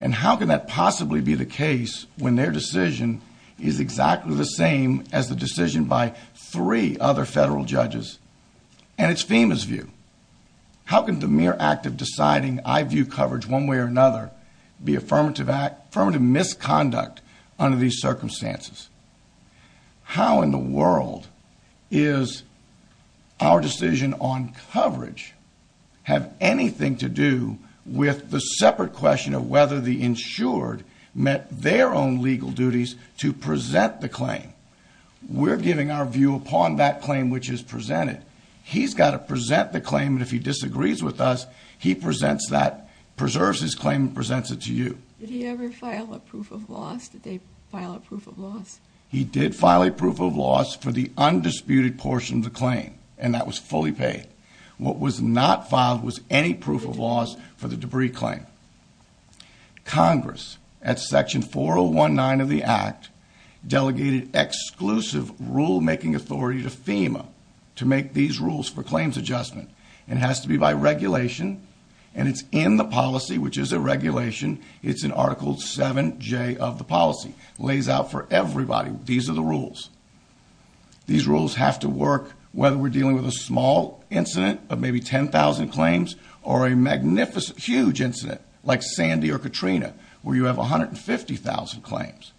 And how can that possibly be the case when their decision is exactly the same as the decision by three other federal judges? And it's FEMA's view. How can the mere act of deciding I view coverage one way or another be affirmative misconduct under these circumstances? How in the world is our decision on coverage have anything to do with the separate question of whether the insured met their own legal duties to present the claim? We're giving our view upon that claim which is presented. He's got to present the claim, and if he disagrees with us, he presents that, preserves his claim, and presents it to you. Did he ever file a proof of loss? Did they file a proof of loss? He did file a proof of loss for the undisputed portion of the claim, and that was fully paid. What was not filed was any proof of loss for the debris claim. Congress, at Section 4019 of the Act, delegated exclusive rulemaking authority to FEMA to make these rules for claims adjustment. It has to be by regulation, and it's in the policy, which is a regulation. It's in Article 7J of the policy. It lays out for everybody these are the rules. These rules have to work whether we're dealing with a small incident of maybe 10,000 claims or a magnificent, huge incident like Sandy or Katrina where you have 150,000 claims.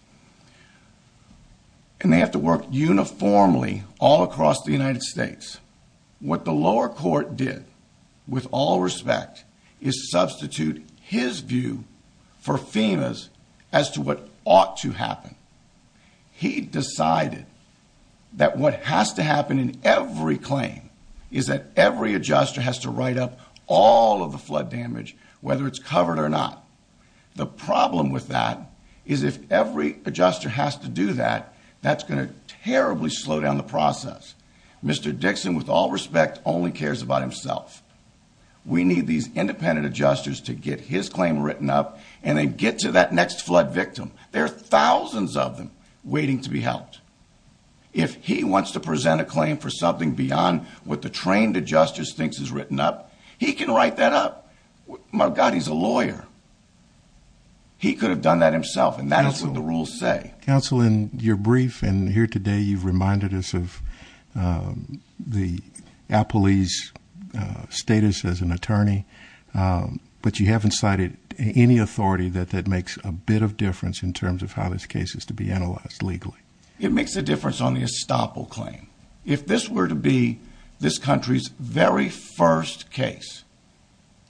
And they have to work uniformly all across the United States. What the lower court did, with all respect, is substitute his view for FEMA's as to what ought to happen. He decided that what has to happen in every claim is that every adjuster has to write up all of the flood damage, whether it's covered or not. The problem with that is if every adjuster has to do that, that's going to terribly slow down the process. Mr. Dixon, with all respect, only cares about himself. We need these independent adjusters to get his claim written up and then get to that next flood victim. There are thousands of them waiting to be helped. If he wants to present a claim for something beyond what the trained adjuster thinks is written up, he can write that up. My God, he's a lawyer. He could have done that himself, and that is what the rules say. Counsel, in your brief and here today, you've reminded us of the appellee's status as an attorney, but you haven't cited any authority that makes a bit of difference in terms of how this case is to be analyzed legally. It makes a difference on the estoppel claim. If this were to be this country's very first case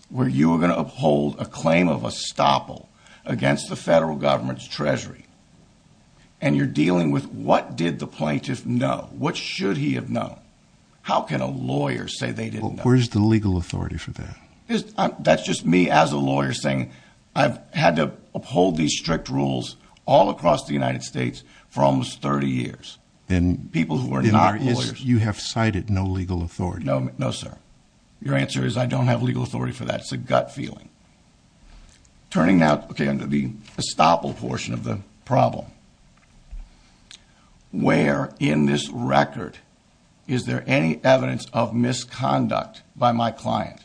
where you were going to uphold a claim of estoppel against the federal government's treasury and you're dealing with what did the plaintiff know, what should he have known, how can a lawyer say they didn't know? Where's the legal authority for that? That's just me as a lawyer saying I've had to uphold these strict rules all across the United States for almost 30 years. People who are not lawyers. You have cited no legal authority. No, sir. Your answer is I don't have legal authority for that. It's a gut feeling. Turning now to the estoppel portion of the problem, where in this record is there any evidence of misconduct by my client?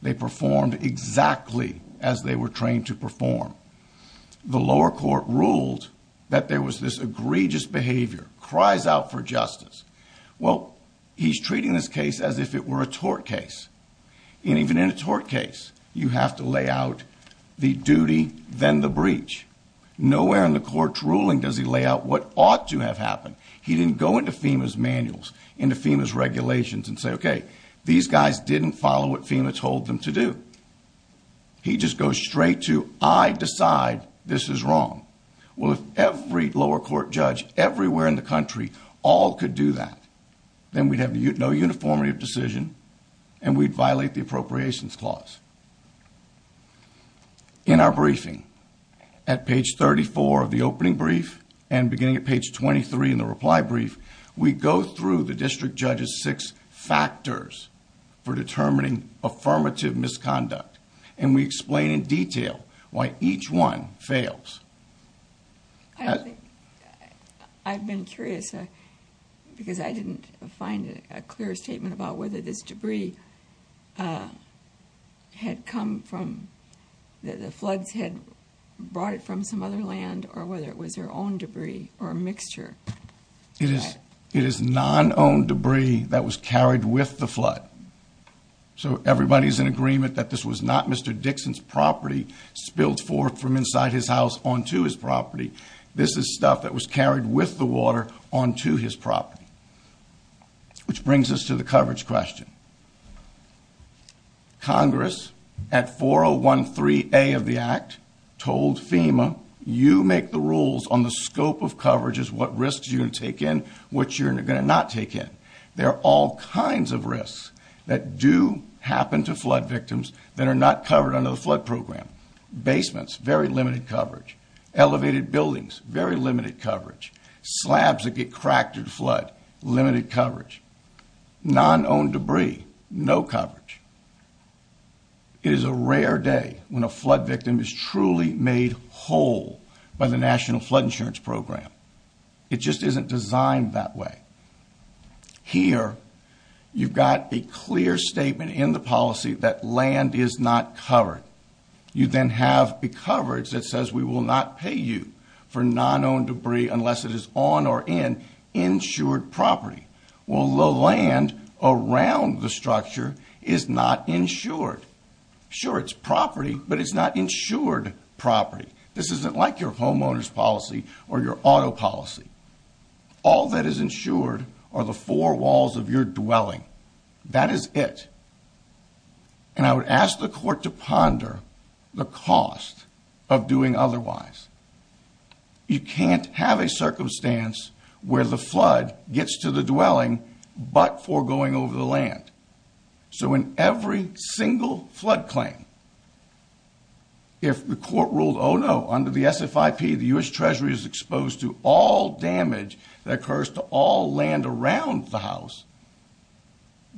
They performed exactly as they were trained to perform. The lower court ruled that there was this egregious behavior, cries out for justice. Well, he's treating this case as if it were a tort case. And even in a tort case, you have to lay out the duty, then the breach. Nowhere in the court's ruling does he lay out what ought to have happened. He didn't go into FEMA's manuals, into FEMA's regulations and say, okay, these guys didn't follow what FEMA told them to do. He just goes straight to I decide this is wrong. Well, if every lower court judge everywhere in the country all could do that, then we'd have no uniformity of decision and we'd violate the appropriations clause. In our briefing, at page 34 of the opening brief and beginning at page 23 in the reply brief, we go through the district judge's six factors for determining affirmative misconduct. And we explain in detail why each one fails. I've been curious because I didn't find a clear statement about whether this debris had come from the floods, had brought it from some other land or whether it was their own debris or a mixture. It is non-owned debris that was carried with the flood. So everybody's in agreement that this was not Mr. Dixon's property spilled forth from inside his house onto his property. This is stuff that was carried with the water onto his property. Which brings us to the coverage question. Congress at 4013A of the Act told FEMA, you make the rules on the scope of coverages, what risks you're going to take in, what you're going to not take in. There are all kinds of risks that do happen to flood victims that are not covered under the flood program. Basements, very limited coverage. Elevated buildings, very limited coverage. Slabs that get cracked in flood, limited coverage. Non-owned debris, no coverage. It is a rare day when a flood victim is truly made whole by the National Flood Insurance Program. It just isn't designed that way. Here, you've got a clear statement in the policy that land is not covered. You then have the coverage that says we will not pay you for non-owned debris unless it is on or in insured property. Well, the land around the structure is not insured. Sure, it's property, but it's not insured property. This isn't like your homeowner's policy or your auto policy. All that is insured are the four walls of your dwelling. That is it. And I would ask the court to ponder the cost of doing otherwise. You can't have a circumstance where the flood gets to the dwelling but foregoing over the land. So in every single flood claim, if the court ruled, oh, no, under the SFIP, the U.S. Treasury is exposed to all damage that occurs to all land around the house,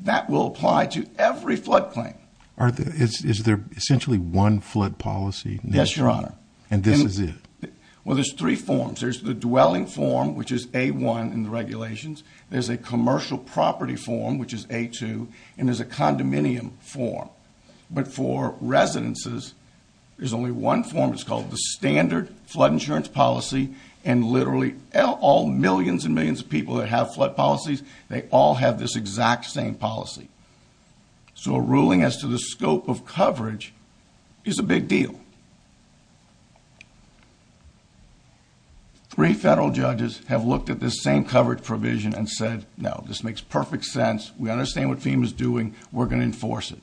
that will apply to every flood claim. Is there essentially one flood policy? Yes, Your Honor. And this is it? Well, there's three forms. There's the dwelling form, which is A1 in the regulations. There's a commercial property form, which is A2, and there's a condominium form. But for residences, there's only one form. It's called the standard flood insurance policy, and literally all millions and millions of people that have flood policies, they all have this exact same policy. So a ruling as to the scope of coverage is a big deal. Three federal judges have looked at this same coverage provision and said, no, this makes perfect sense. We understand what FEMA's doing. We're going to enforce it.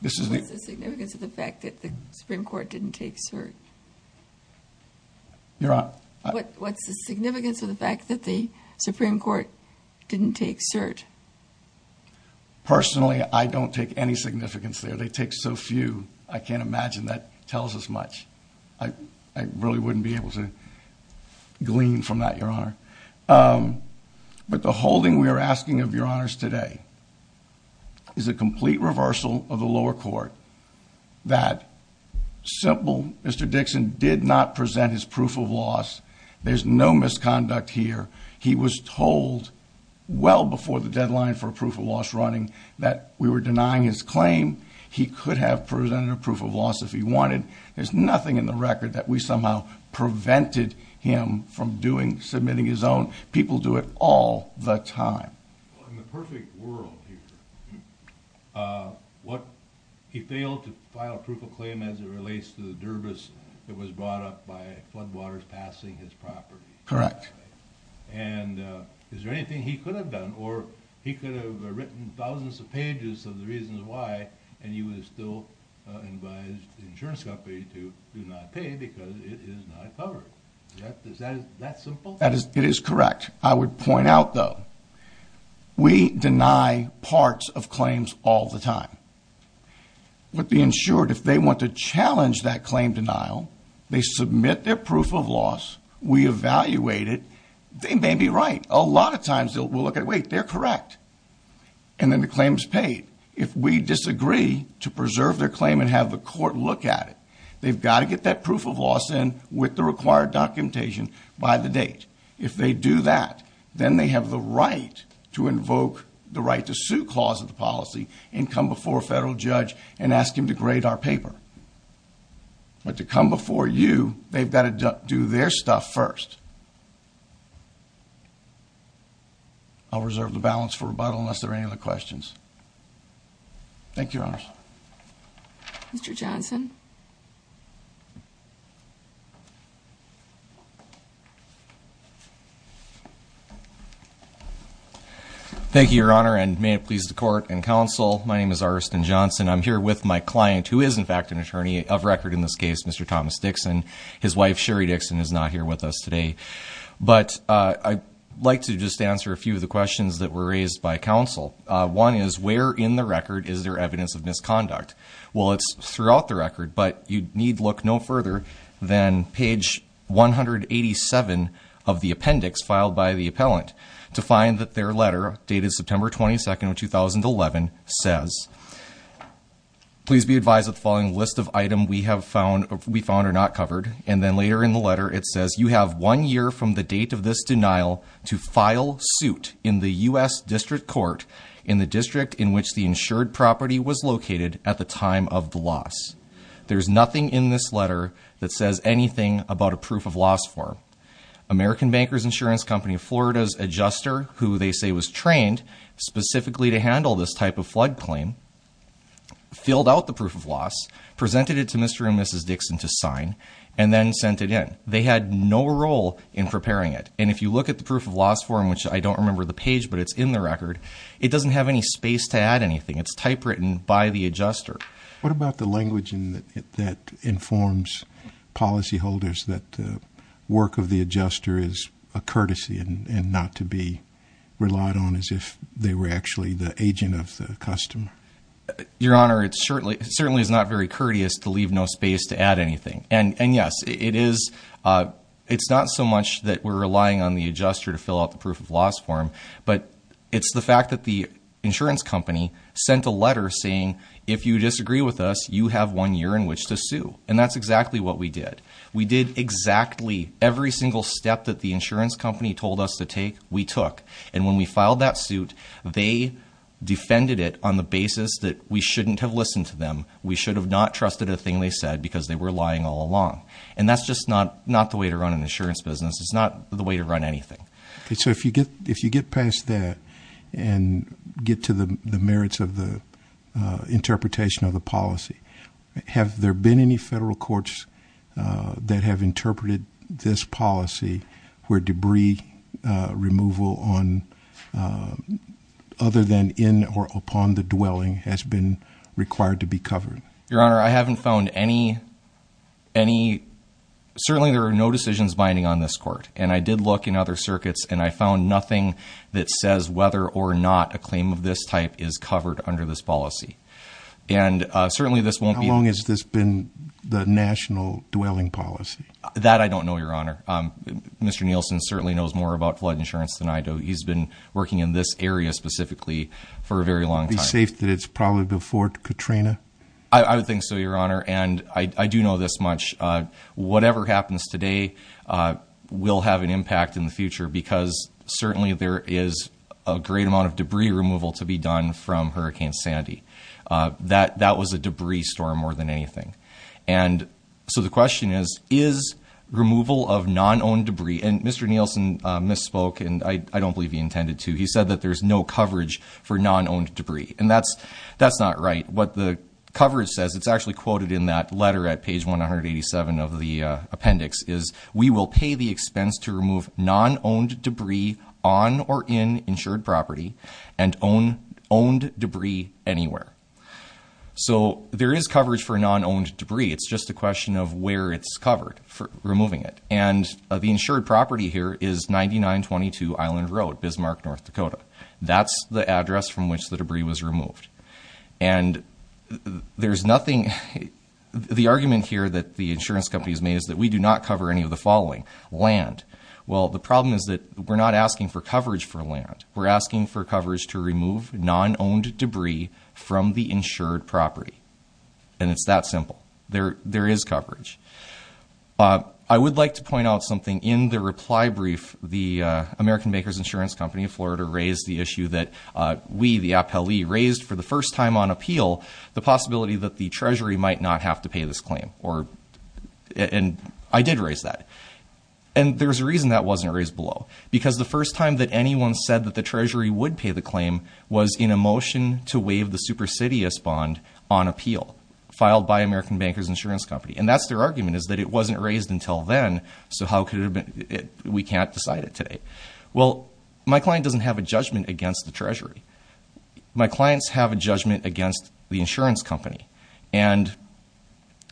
What's the significance of the fact that the Supreme Court didn't take cert? Your Honor? What's the significance of the fact that the Supreme Court didn't take cert? Personally, I don't take any significance there. They take so few. I can't imagine that tells us much. I really wouldn't be able to glean from that, Your Honor. But the holding we are asking of Your Honors today is a complete reversal of the lower court. That simple, Mr. Dixon did not present his proof of loss. There's no misconduct here. He was told well before the deadline for a proof of loss running that we were denying his claim. He could have presented a proof of loss if he wanted. There's nothing in the record that we somehow prevented him from doing, submitting his own. People do it all the time. In the perfect world here, he failed to file a proof of claim as it relates to the dervice that was brought up by floodwaters passing his property. Correct. And is there anything he could have done? Or he could have written thousands of pages of the reasons why and he would have still advised the insurance company to do not pay because it is not covered. Is that simple? It is correct. I would point out, though, we deny parts of claims all the time. With the insured, if they want to challenge that claim denial, they submit their proof of loss. We evaluate it. They may be right. A lot of times we'll look at, wait, they're correct. And then the claim is paid. If we disagree to preserve their claim and have the court look at it, they've got to get that proof of loss in with the required documentation by the date. If they do that, then they have the right to invoke the right to sue clause of the policy and come before a federal judge and ask him to grade our paper. But to come before you, they've got to do their stuff first. I'll reserve the balance for rebuttal unless there are any other questions. Thank you, Your Honors. Mr. Johnson? Thank you, Your Honor, and may it please the court and counsel, my name is Ariston Johnson. I'm here with my client, who is, in fact, an attorney of record in this case, Mr. Thomas Dixon. His wife, Sherry Dixon, is not here with us today. But I'd like to just answer a few of the questions that were raised by counsel. One is, where in the record is there evidence of misconduct? Well, it's throughout the record, but you need look no further than page 187 of the appendix filed by the appellant to find that their letter, dated September 22, 2011, says, Please be advised that the following list of items we found are not covered. And then later in the letter, it says, There's nothing in this letter that says anything about a proof of loss form. American Bankers Insurance Company of Florida's adjuster, who they say was trained specifically to handle this type of flood claim, filled out the proof of loss, presented it to Mr. and Mrs. Dixon to sign, and then sent it in. They had no role in preparing it. And if you look at the proof of loss form, which I don't remember the page, but it's in the record, it doesn't have any space to add anything. It's typewritten by the adjuster. What about the language that informs policyholders that the work of the adjuster is a courtesy and not to be relied on as if they were actually the agent of the customer? Your Honor, it certainly is not very courteous to leave no space to add anything. And yes, it's not so much that we're relying on the adjuster to fill out the proof of loss form, but it's the fact that the insurance company sent a letter saying, And that's exactly what we did. We did exactly every single step that the insurance company told us to take, we took. And when we filed that suit, they defended it on the basis that we shouldn't have listened to them, we should have not trusted a thing they said because they were lying all along. And that's just not the way to run an insurance business. It's not the way to run anything. So if you get past that and get to the merits of the interpretation of the policy, have there been any federal courts that have interpreted this policy where debris removal on, other than in or upon the dwelling, has been required to be covered? Your Honor, I haven't found any, certainly there are no decisions binding on this court. And I did look in other circuits and I found nothing that says whether or not a claim of this type is covered under this policy. And certainly this won't be. How long has this been the national dwelling policy? That I don't know, Your Honor. Mr. Nielsen certainly knows more about flood insurance than I do. He's been working in this area specifically for a very long time. Would it be safe that it's probably before Katrina? I would think so, Your Honor. And I do know this much. Whatever happens today will have an impact in the future because certainly there is a great amount of debris removal to be done from Hurricane Sandy. That was a debris storm more than anything. And so the question is, is removal of non-owned debris, and Mr. Nielsen misspoke and I don't believe he intended to. He said that there's no coverage for non-owned debris. And that's not right. What the coverage says, it's actually quoted in that letter at page 187 of the appendix, is we will pay the expense to remove non-owned debris on or in insured property and owned debris anywhere. So there is coverage for non-owned debris. It's just a question of where it's covered, removing it. And the insured property here is 9922 Island Road, Bismarck, North Dakota. That's the address from which the debris was removed. And there's nothing the argument here that the insurance company has made is that we do not cover any of the following. Land. Well, the problem is that we're not asking for coverage for land. We're asking for coverage to remove non-owned debris from the insured property. And it's that simple. There is coverage. I would like to point out something. In the reply brief, the American Bakers Insurance Company of Florida raised the issue that we, the appellee, raised for the first time on appeal the possibility that the Treasury might not have to pay this claim. And I did raise that. And there's a reason that wasn't raised below. Because the first time that anyone said that the Treasury would pay the claim was in a motion to waive the supersidious bond on appeal filed by American Bankers Insurance Company. And that's their argument is that it wasn't raised until then, so we can't decide it today. Well, my client doesn't have a judgment against the Treasury. My clients have a judgment against the insurance company. And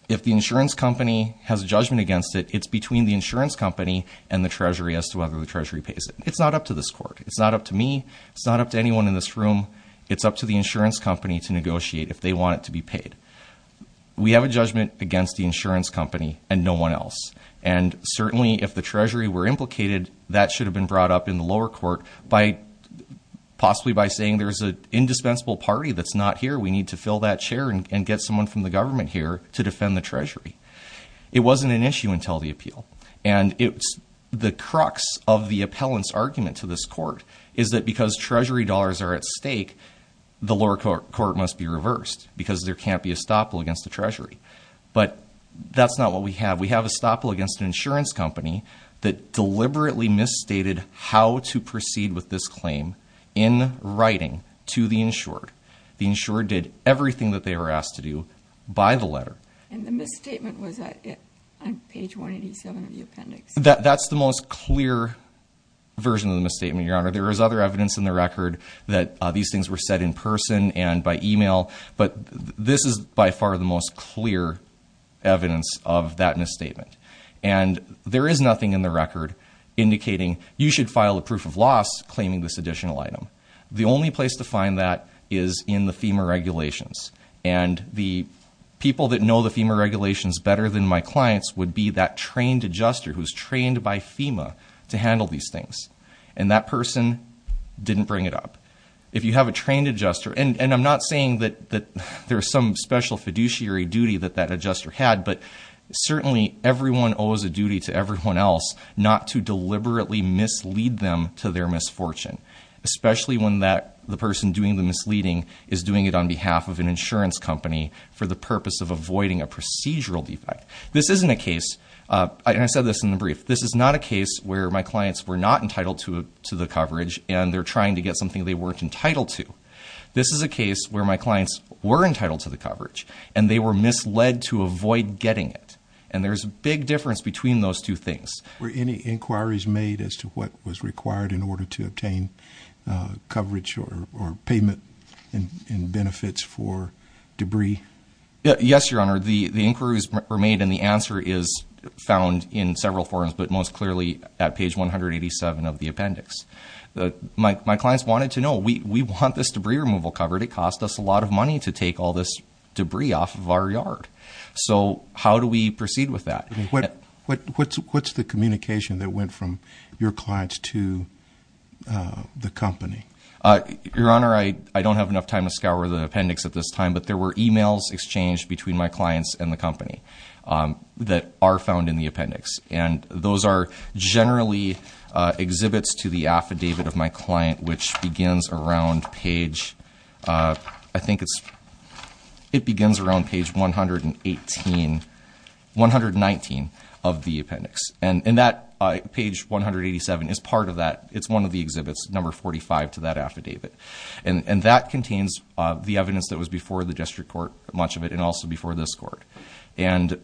if the insurance company has a judgment against it, it's between the insurance company and the Treasury as to whether the Treasury pays it. It's not up to this court. It's not up to me. It's not up to anyone in this room. It's up to the insurance company to negotiate if they want it to be paid. We have a judgment against the insurance company and no one else. And certainly if the Treasury were implicated, that should have been brought up in the lower court by possibly by saying there's an indispensable party that's not here, we need to fill that chair and get someone from the government here to defend the Treasury. It wasn't an issue until the appeal. And the crux of the appellant's argument to this court is that because Treasury dollars are at stake, the lower court must be reversed because there can't be a stop against the Treasury. But that's not what we have. We have a stop against an insurance company that deliberately misstated how to proceed with this claim in writing to the insured. The insured did everything that they were asked to do by the letter. And the misstatement was on page 187 of the appendix. That's the most clear version of the misstatement, Your Honor. There is other evidence in the record that these things were said in person and by email. But this is by far the most clear evidence of that misstatement. And there is nothing in the record indicating you should file a proof of loss claiming this additional item. The only place to find that is in the FEMA regulations. And the people that know the FEMA regulations better than my clients would be that trained adjuster who's trained by FEMA to handle these things. And that person didn't bring it up. If you have a trained adjuster, and I'm not saying that there's some special fiduciary duty that that adjuster had, but certainly everyone owes a duty to everyone else not to deliberately mislead them to their misfortune. Especially when the person doing the misleading is doing it on behalf of an insurance company for the purpose of avoiding a procedural defect. This isn't a case, and I said this in the brief, this is not a case where my clients were not entitled to the coverage and they're trying to get something they weren't entitled to. This is a case where my clients were entitled to the coverage, and they were misled to avoid getting it. And there's a big difference between those two things. Were any inquiries made as to what was required in order to obtain coverage or payment in benefits for debris? Yes, Your Honor, the inquiries were made and the answer is found in several forms, but most clearly at page 187 of the appendix. My clients wanted to know, we want this debris removal covered. It cost us a lot of money to take all this debris off of our yard. So how do we proceed with that? What's the communication that went from your clients to the company? Your Honor, I don't have enough time to scour the appendix at this time, but there were emails exchanged between my clients and the company that are found in the appendix. And those are generally exhibits to the affidavit of my client, which begins around page, I think it begins around page 119 of the appendix. And that page 187 is part of that. It's one of the exhibits, number 45 to that affidavit. And that contains the evidence that was before the district court, much of it, and also before this court. And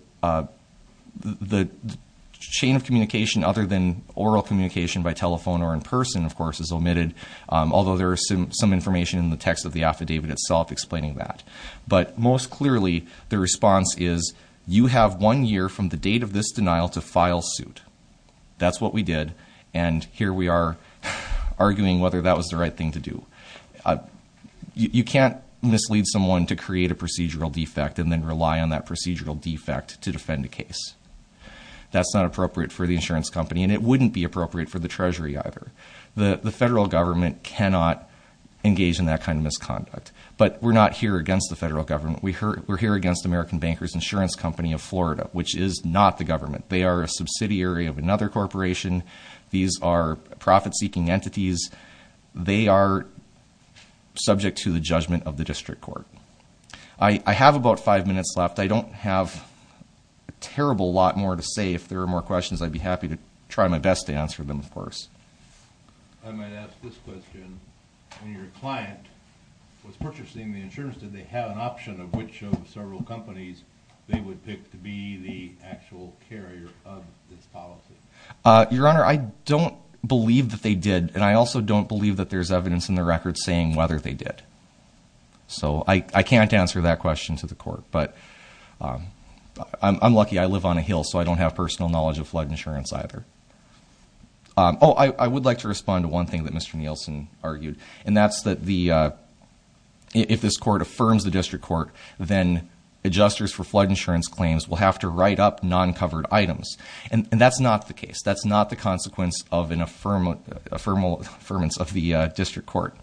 the chain of communication other than oral communication by telephone or in person, of course, is omitted, although there is some information in the text of the affidavit itself explaining that. But most clearly, the response is, you have one year from the date of this denial to file suit. That's what we did, and here we are arguing whether that was the right thing to do. You can't mislead someone to create a procedural defect and then rely on that procedural defect to defend a case. That's not appropriate for the insurance company, and it wouldn't be appropriate for the Treasury either. The federal government cannot engage in that kind of misconduct. But we're not here against the federal government. We're here against American Bankers Insurance Company of Florida, which is not the government. They are a subsidiary of another corporation. These are profit-seeking entities. They are subject to the judgment of the district court. I have about five minutes left. I don't have a terrible lot more to say. If there are more questions, I'd be happy to try my best to answer them, of course. I might ask this question. When your client was purchasing the insurance, did they have an option of which of several companies they would pick to be the actual carrier of this policy? Your Honor, I don't believe that they did. And I also don't believe that there's evidence in the record saying whether they did. So I can't answer that question to the court. But I'm lucky I live on a hill, so I don't have personal knowledge of flood insurance either. Oh, I would like to respond to one thing that Mr. Nielsen argued. And that's that if this court affirms the district court, then adjusters for flood insurance claims will have to write up non-covered items. And that's not the case. That's not the consequence of an affirmance of the district court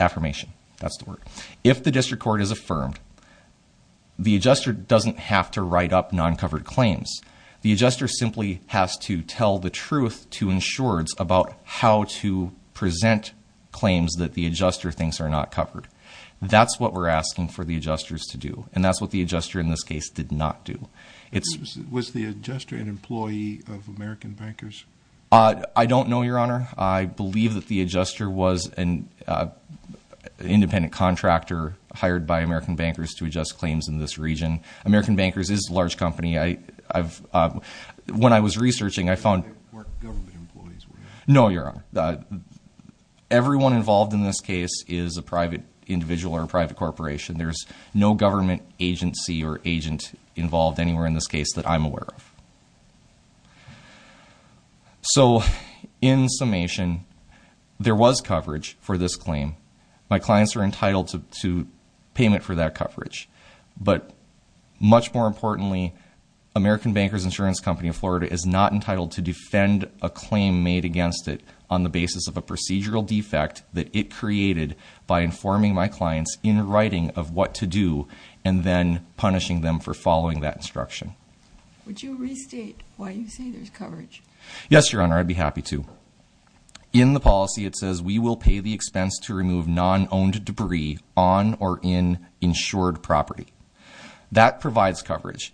affirmation. That's the word. If the district court is affirmed, the adjuster doesn't have to write up non-covered claims. The adjuster simply has to tell the truth to insurers about how to present claims that the adjuster thinks are not covered. That's what we're asking for the adjusters to do, and that's what the adjuster in this case did not do. Was the adjuster an employee of American Bankers? I don't know, Your Honor. I believe that the adjuster was an independent contractor hired by American Bankers to adjust claims in this region. American Bankers is a large company. When I was researching, I found— They weren't government employees, were they? No, Your Honor. Everyone involved in this case is a private individual or a private corporation. There's no government agency or agent involved anywhere in this case that I'm aware of. So, in summation, there was coverage for this claim. My clients are entitled to payment for that coverage. But much more importantly, American Bankers Insurance Company of Florida is not entitled to defend a claim made against it on the basis of a procedural defect that it created by informing my clients in writing of what to do and then punishing them for following that instruction. Would you restate why you say there's coverage? Yes, Your Honor. I'd be happy to. In the policy, it says we will pay the expense to remove non-owned debris on or in insured property. That provides coverage.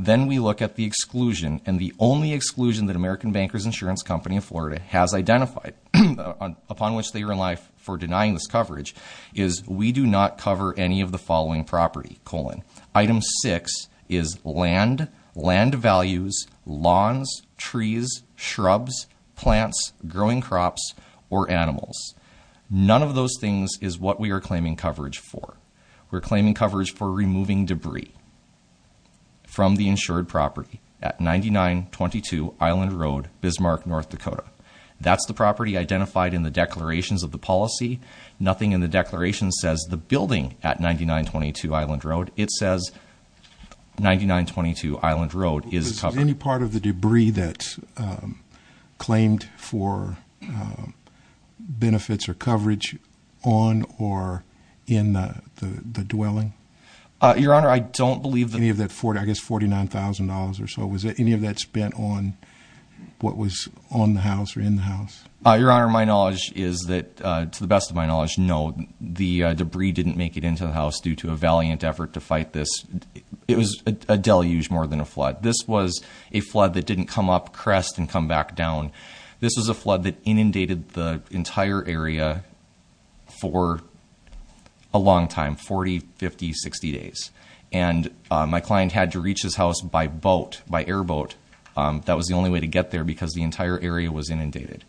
Then we look at the exclusion, and the only exclusion that American Bankers Insurance Company of Florida has identified upon which they are in life for denying this coverage is we do not cover any of the following property, colon. Item 6 is land, land values, lawns, trees, shrubs, plants, growing crops, or animals. None of those things is what we are claiming coverage for. We're claiming coverage for removing debris. From the insured property at 9922 Island Road, Bismarck, North Dakota. That's the property identified in the declarations of the policy. Nothing in the declaration says the building at 9922 Island Road. It says 9922 Island Road is covered. Is there any part of the debris that's claimed for benefits or coverage on or in the dwelling? Your Honor, I don't believe that. Any of that, I guess $49,000 or so, was any of that spent on what was on the house or in the house? Your Honor, my knowledge is that, to the best of my knowledge, no. The debris didn't make it into the house due to a valiant effort to fight this. It was a deluge more than a flood. This was a flood that didn't come up, crest, and come back down. This was a flood that inundated the entire area for a long time, 40, 50, 60 days. And my client had to reach his house by boat, by airboat. That was the only way to get there because the entire area was inundated.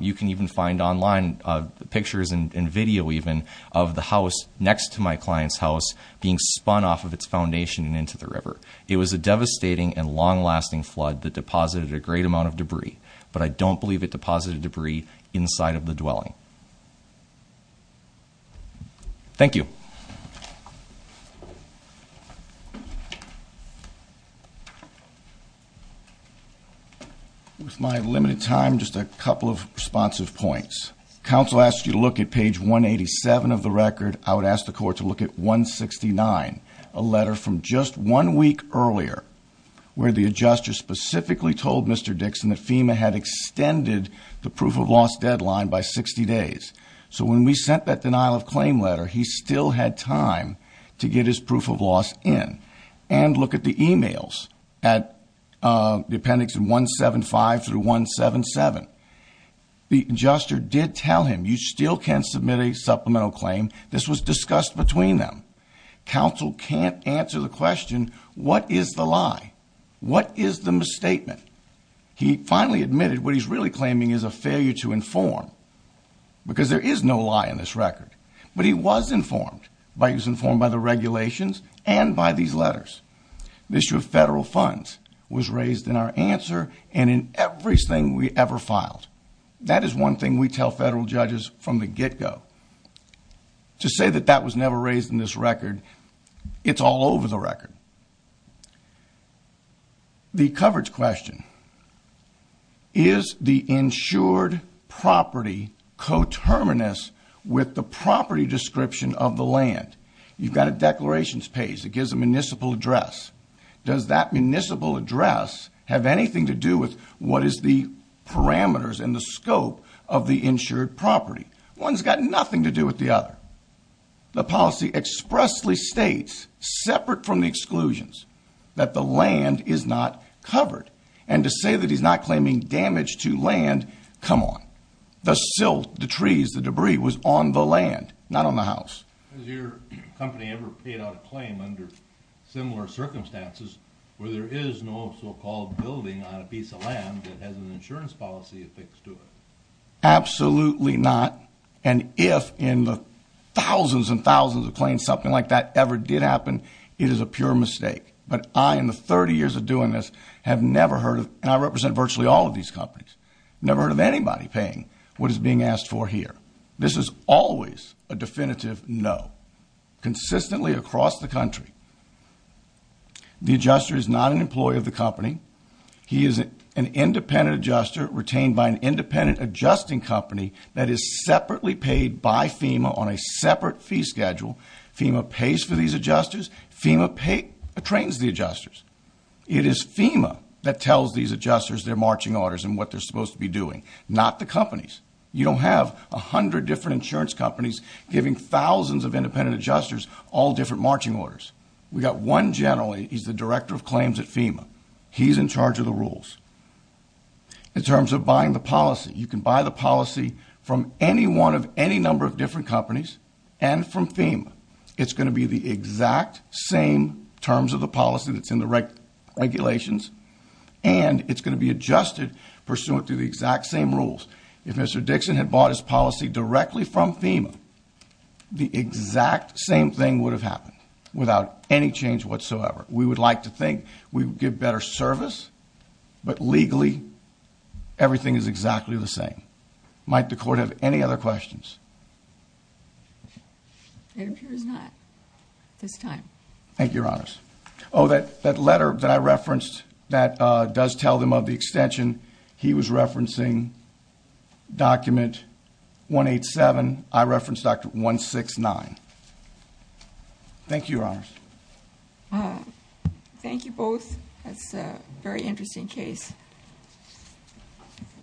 You can even find online pictures and video, even, of the house next to my client's house being spun off of its foundation and into the river. It was a devastating and long-lasting flood that deposited a great amount of debris. But I don't believe it deposited debris inside of the dwelling. Thank you. With my limited time, just a couple of responsive points. Counsel asked you to look at page 187 of the record. I would ask the court to look at 169, a letter from just one week earlier, where the adjuster specifically told Mr. Dixon that FEMA had extended the proof-of-loss deadline by 60 days. So when we sent that denial-of-claim letter, he still had time to get his proof-of-loss in. And look at the e-mails at the appendix 175 through 177. The adjuster did tell him, you still can't submit a supplemental claim. This was discussed between them. Counsel can't answer the question, what is the lie? What is the misstatement? He finally admitted what he's really claiming is a failure to inform, because there is no lie in this record. But he was informed. He was informed by the regulations and by these letters. The issue of federal funds was raised in our answer and in everything we ever filed. That is one thing we tell federal judges from the get-go. To say that that was never raised in this record, it's all over the record. The coverage question, is the insured property coterminous with the property description of the land? You've got a declarations page that gives a municipal address. Does that municipal address have anything to do with what is the parameters and the scope of the insured property? One's got nothing to do with the other. The policy expressly states, separate from the exclusions, that the land is not covered. And to say that he's not claiming damage to land, come on. The silt, the trees, the debris was on the land, not on the house. Has your company ever paid out a claim under similar circumstances, where there is no so-called building on a piece of land that has an insurance policy affixed to it? Absolutely not. And if in the thousands and thousands of claims something like that ever did happen, it is a pure mistake. But I, in the 30 years of doing this, have never heard of, and I represent virtually all of these companies, never heard of anybody paying what is being asked for here. This is always a definitive no. Consistently across the country, the adjuster is not an employee of the company. He is an independent adjuster retained by an independent adjusting company that is separately paid by FEMA on a separate fee schedule. FEMA pays for these adjusters. FEMA trains the adjusters. It is FEMA that tells these adjusters their marching orders and what they're supposed to be doing, not the companies. You don't have 100 different insurance companies giving thousands of independent adjusters all different marching orders. We've got one general, and he's the director of claims at FEMA. He's in charge of the rules. In terms of buying the policy, you can buy the policy from any one of any number of different companies and from FEMA. It's going to be the exact same terms of the policy that's in the regulations, and it's going to be adjusted pursuant to the exact same rules. If Mr. Dixon had bought his policy directly from FEMA, the exact same thing would have happened without any change whatsoever. We would like to think we would get better service, but legally everything is exactly the same. Might the Court have any other questions? It appears not at this time. Thank you, Your Honors. Oh, that letter that I referenced that does tell them of the extension, he was referencing document 187. I referenced document 169. Thank you, Your Honors. Thank you both. That's a very interesting case.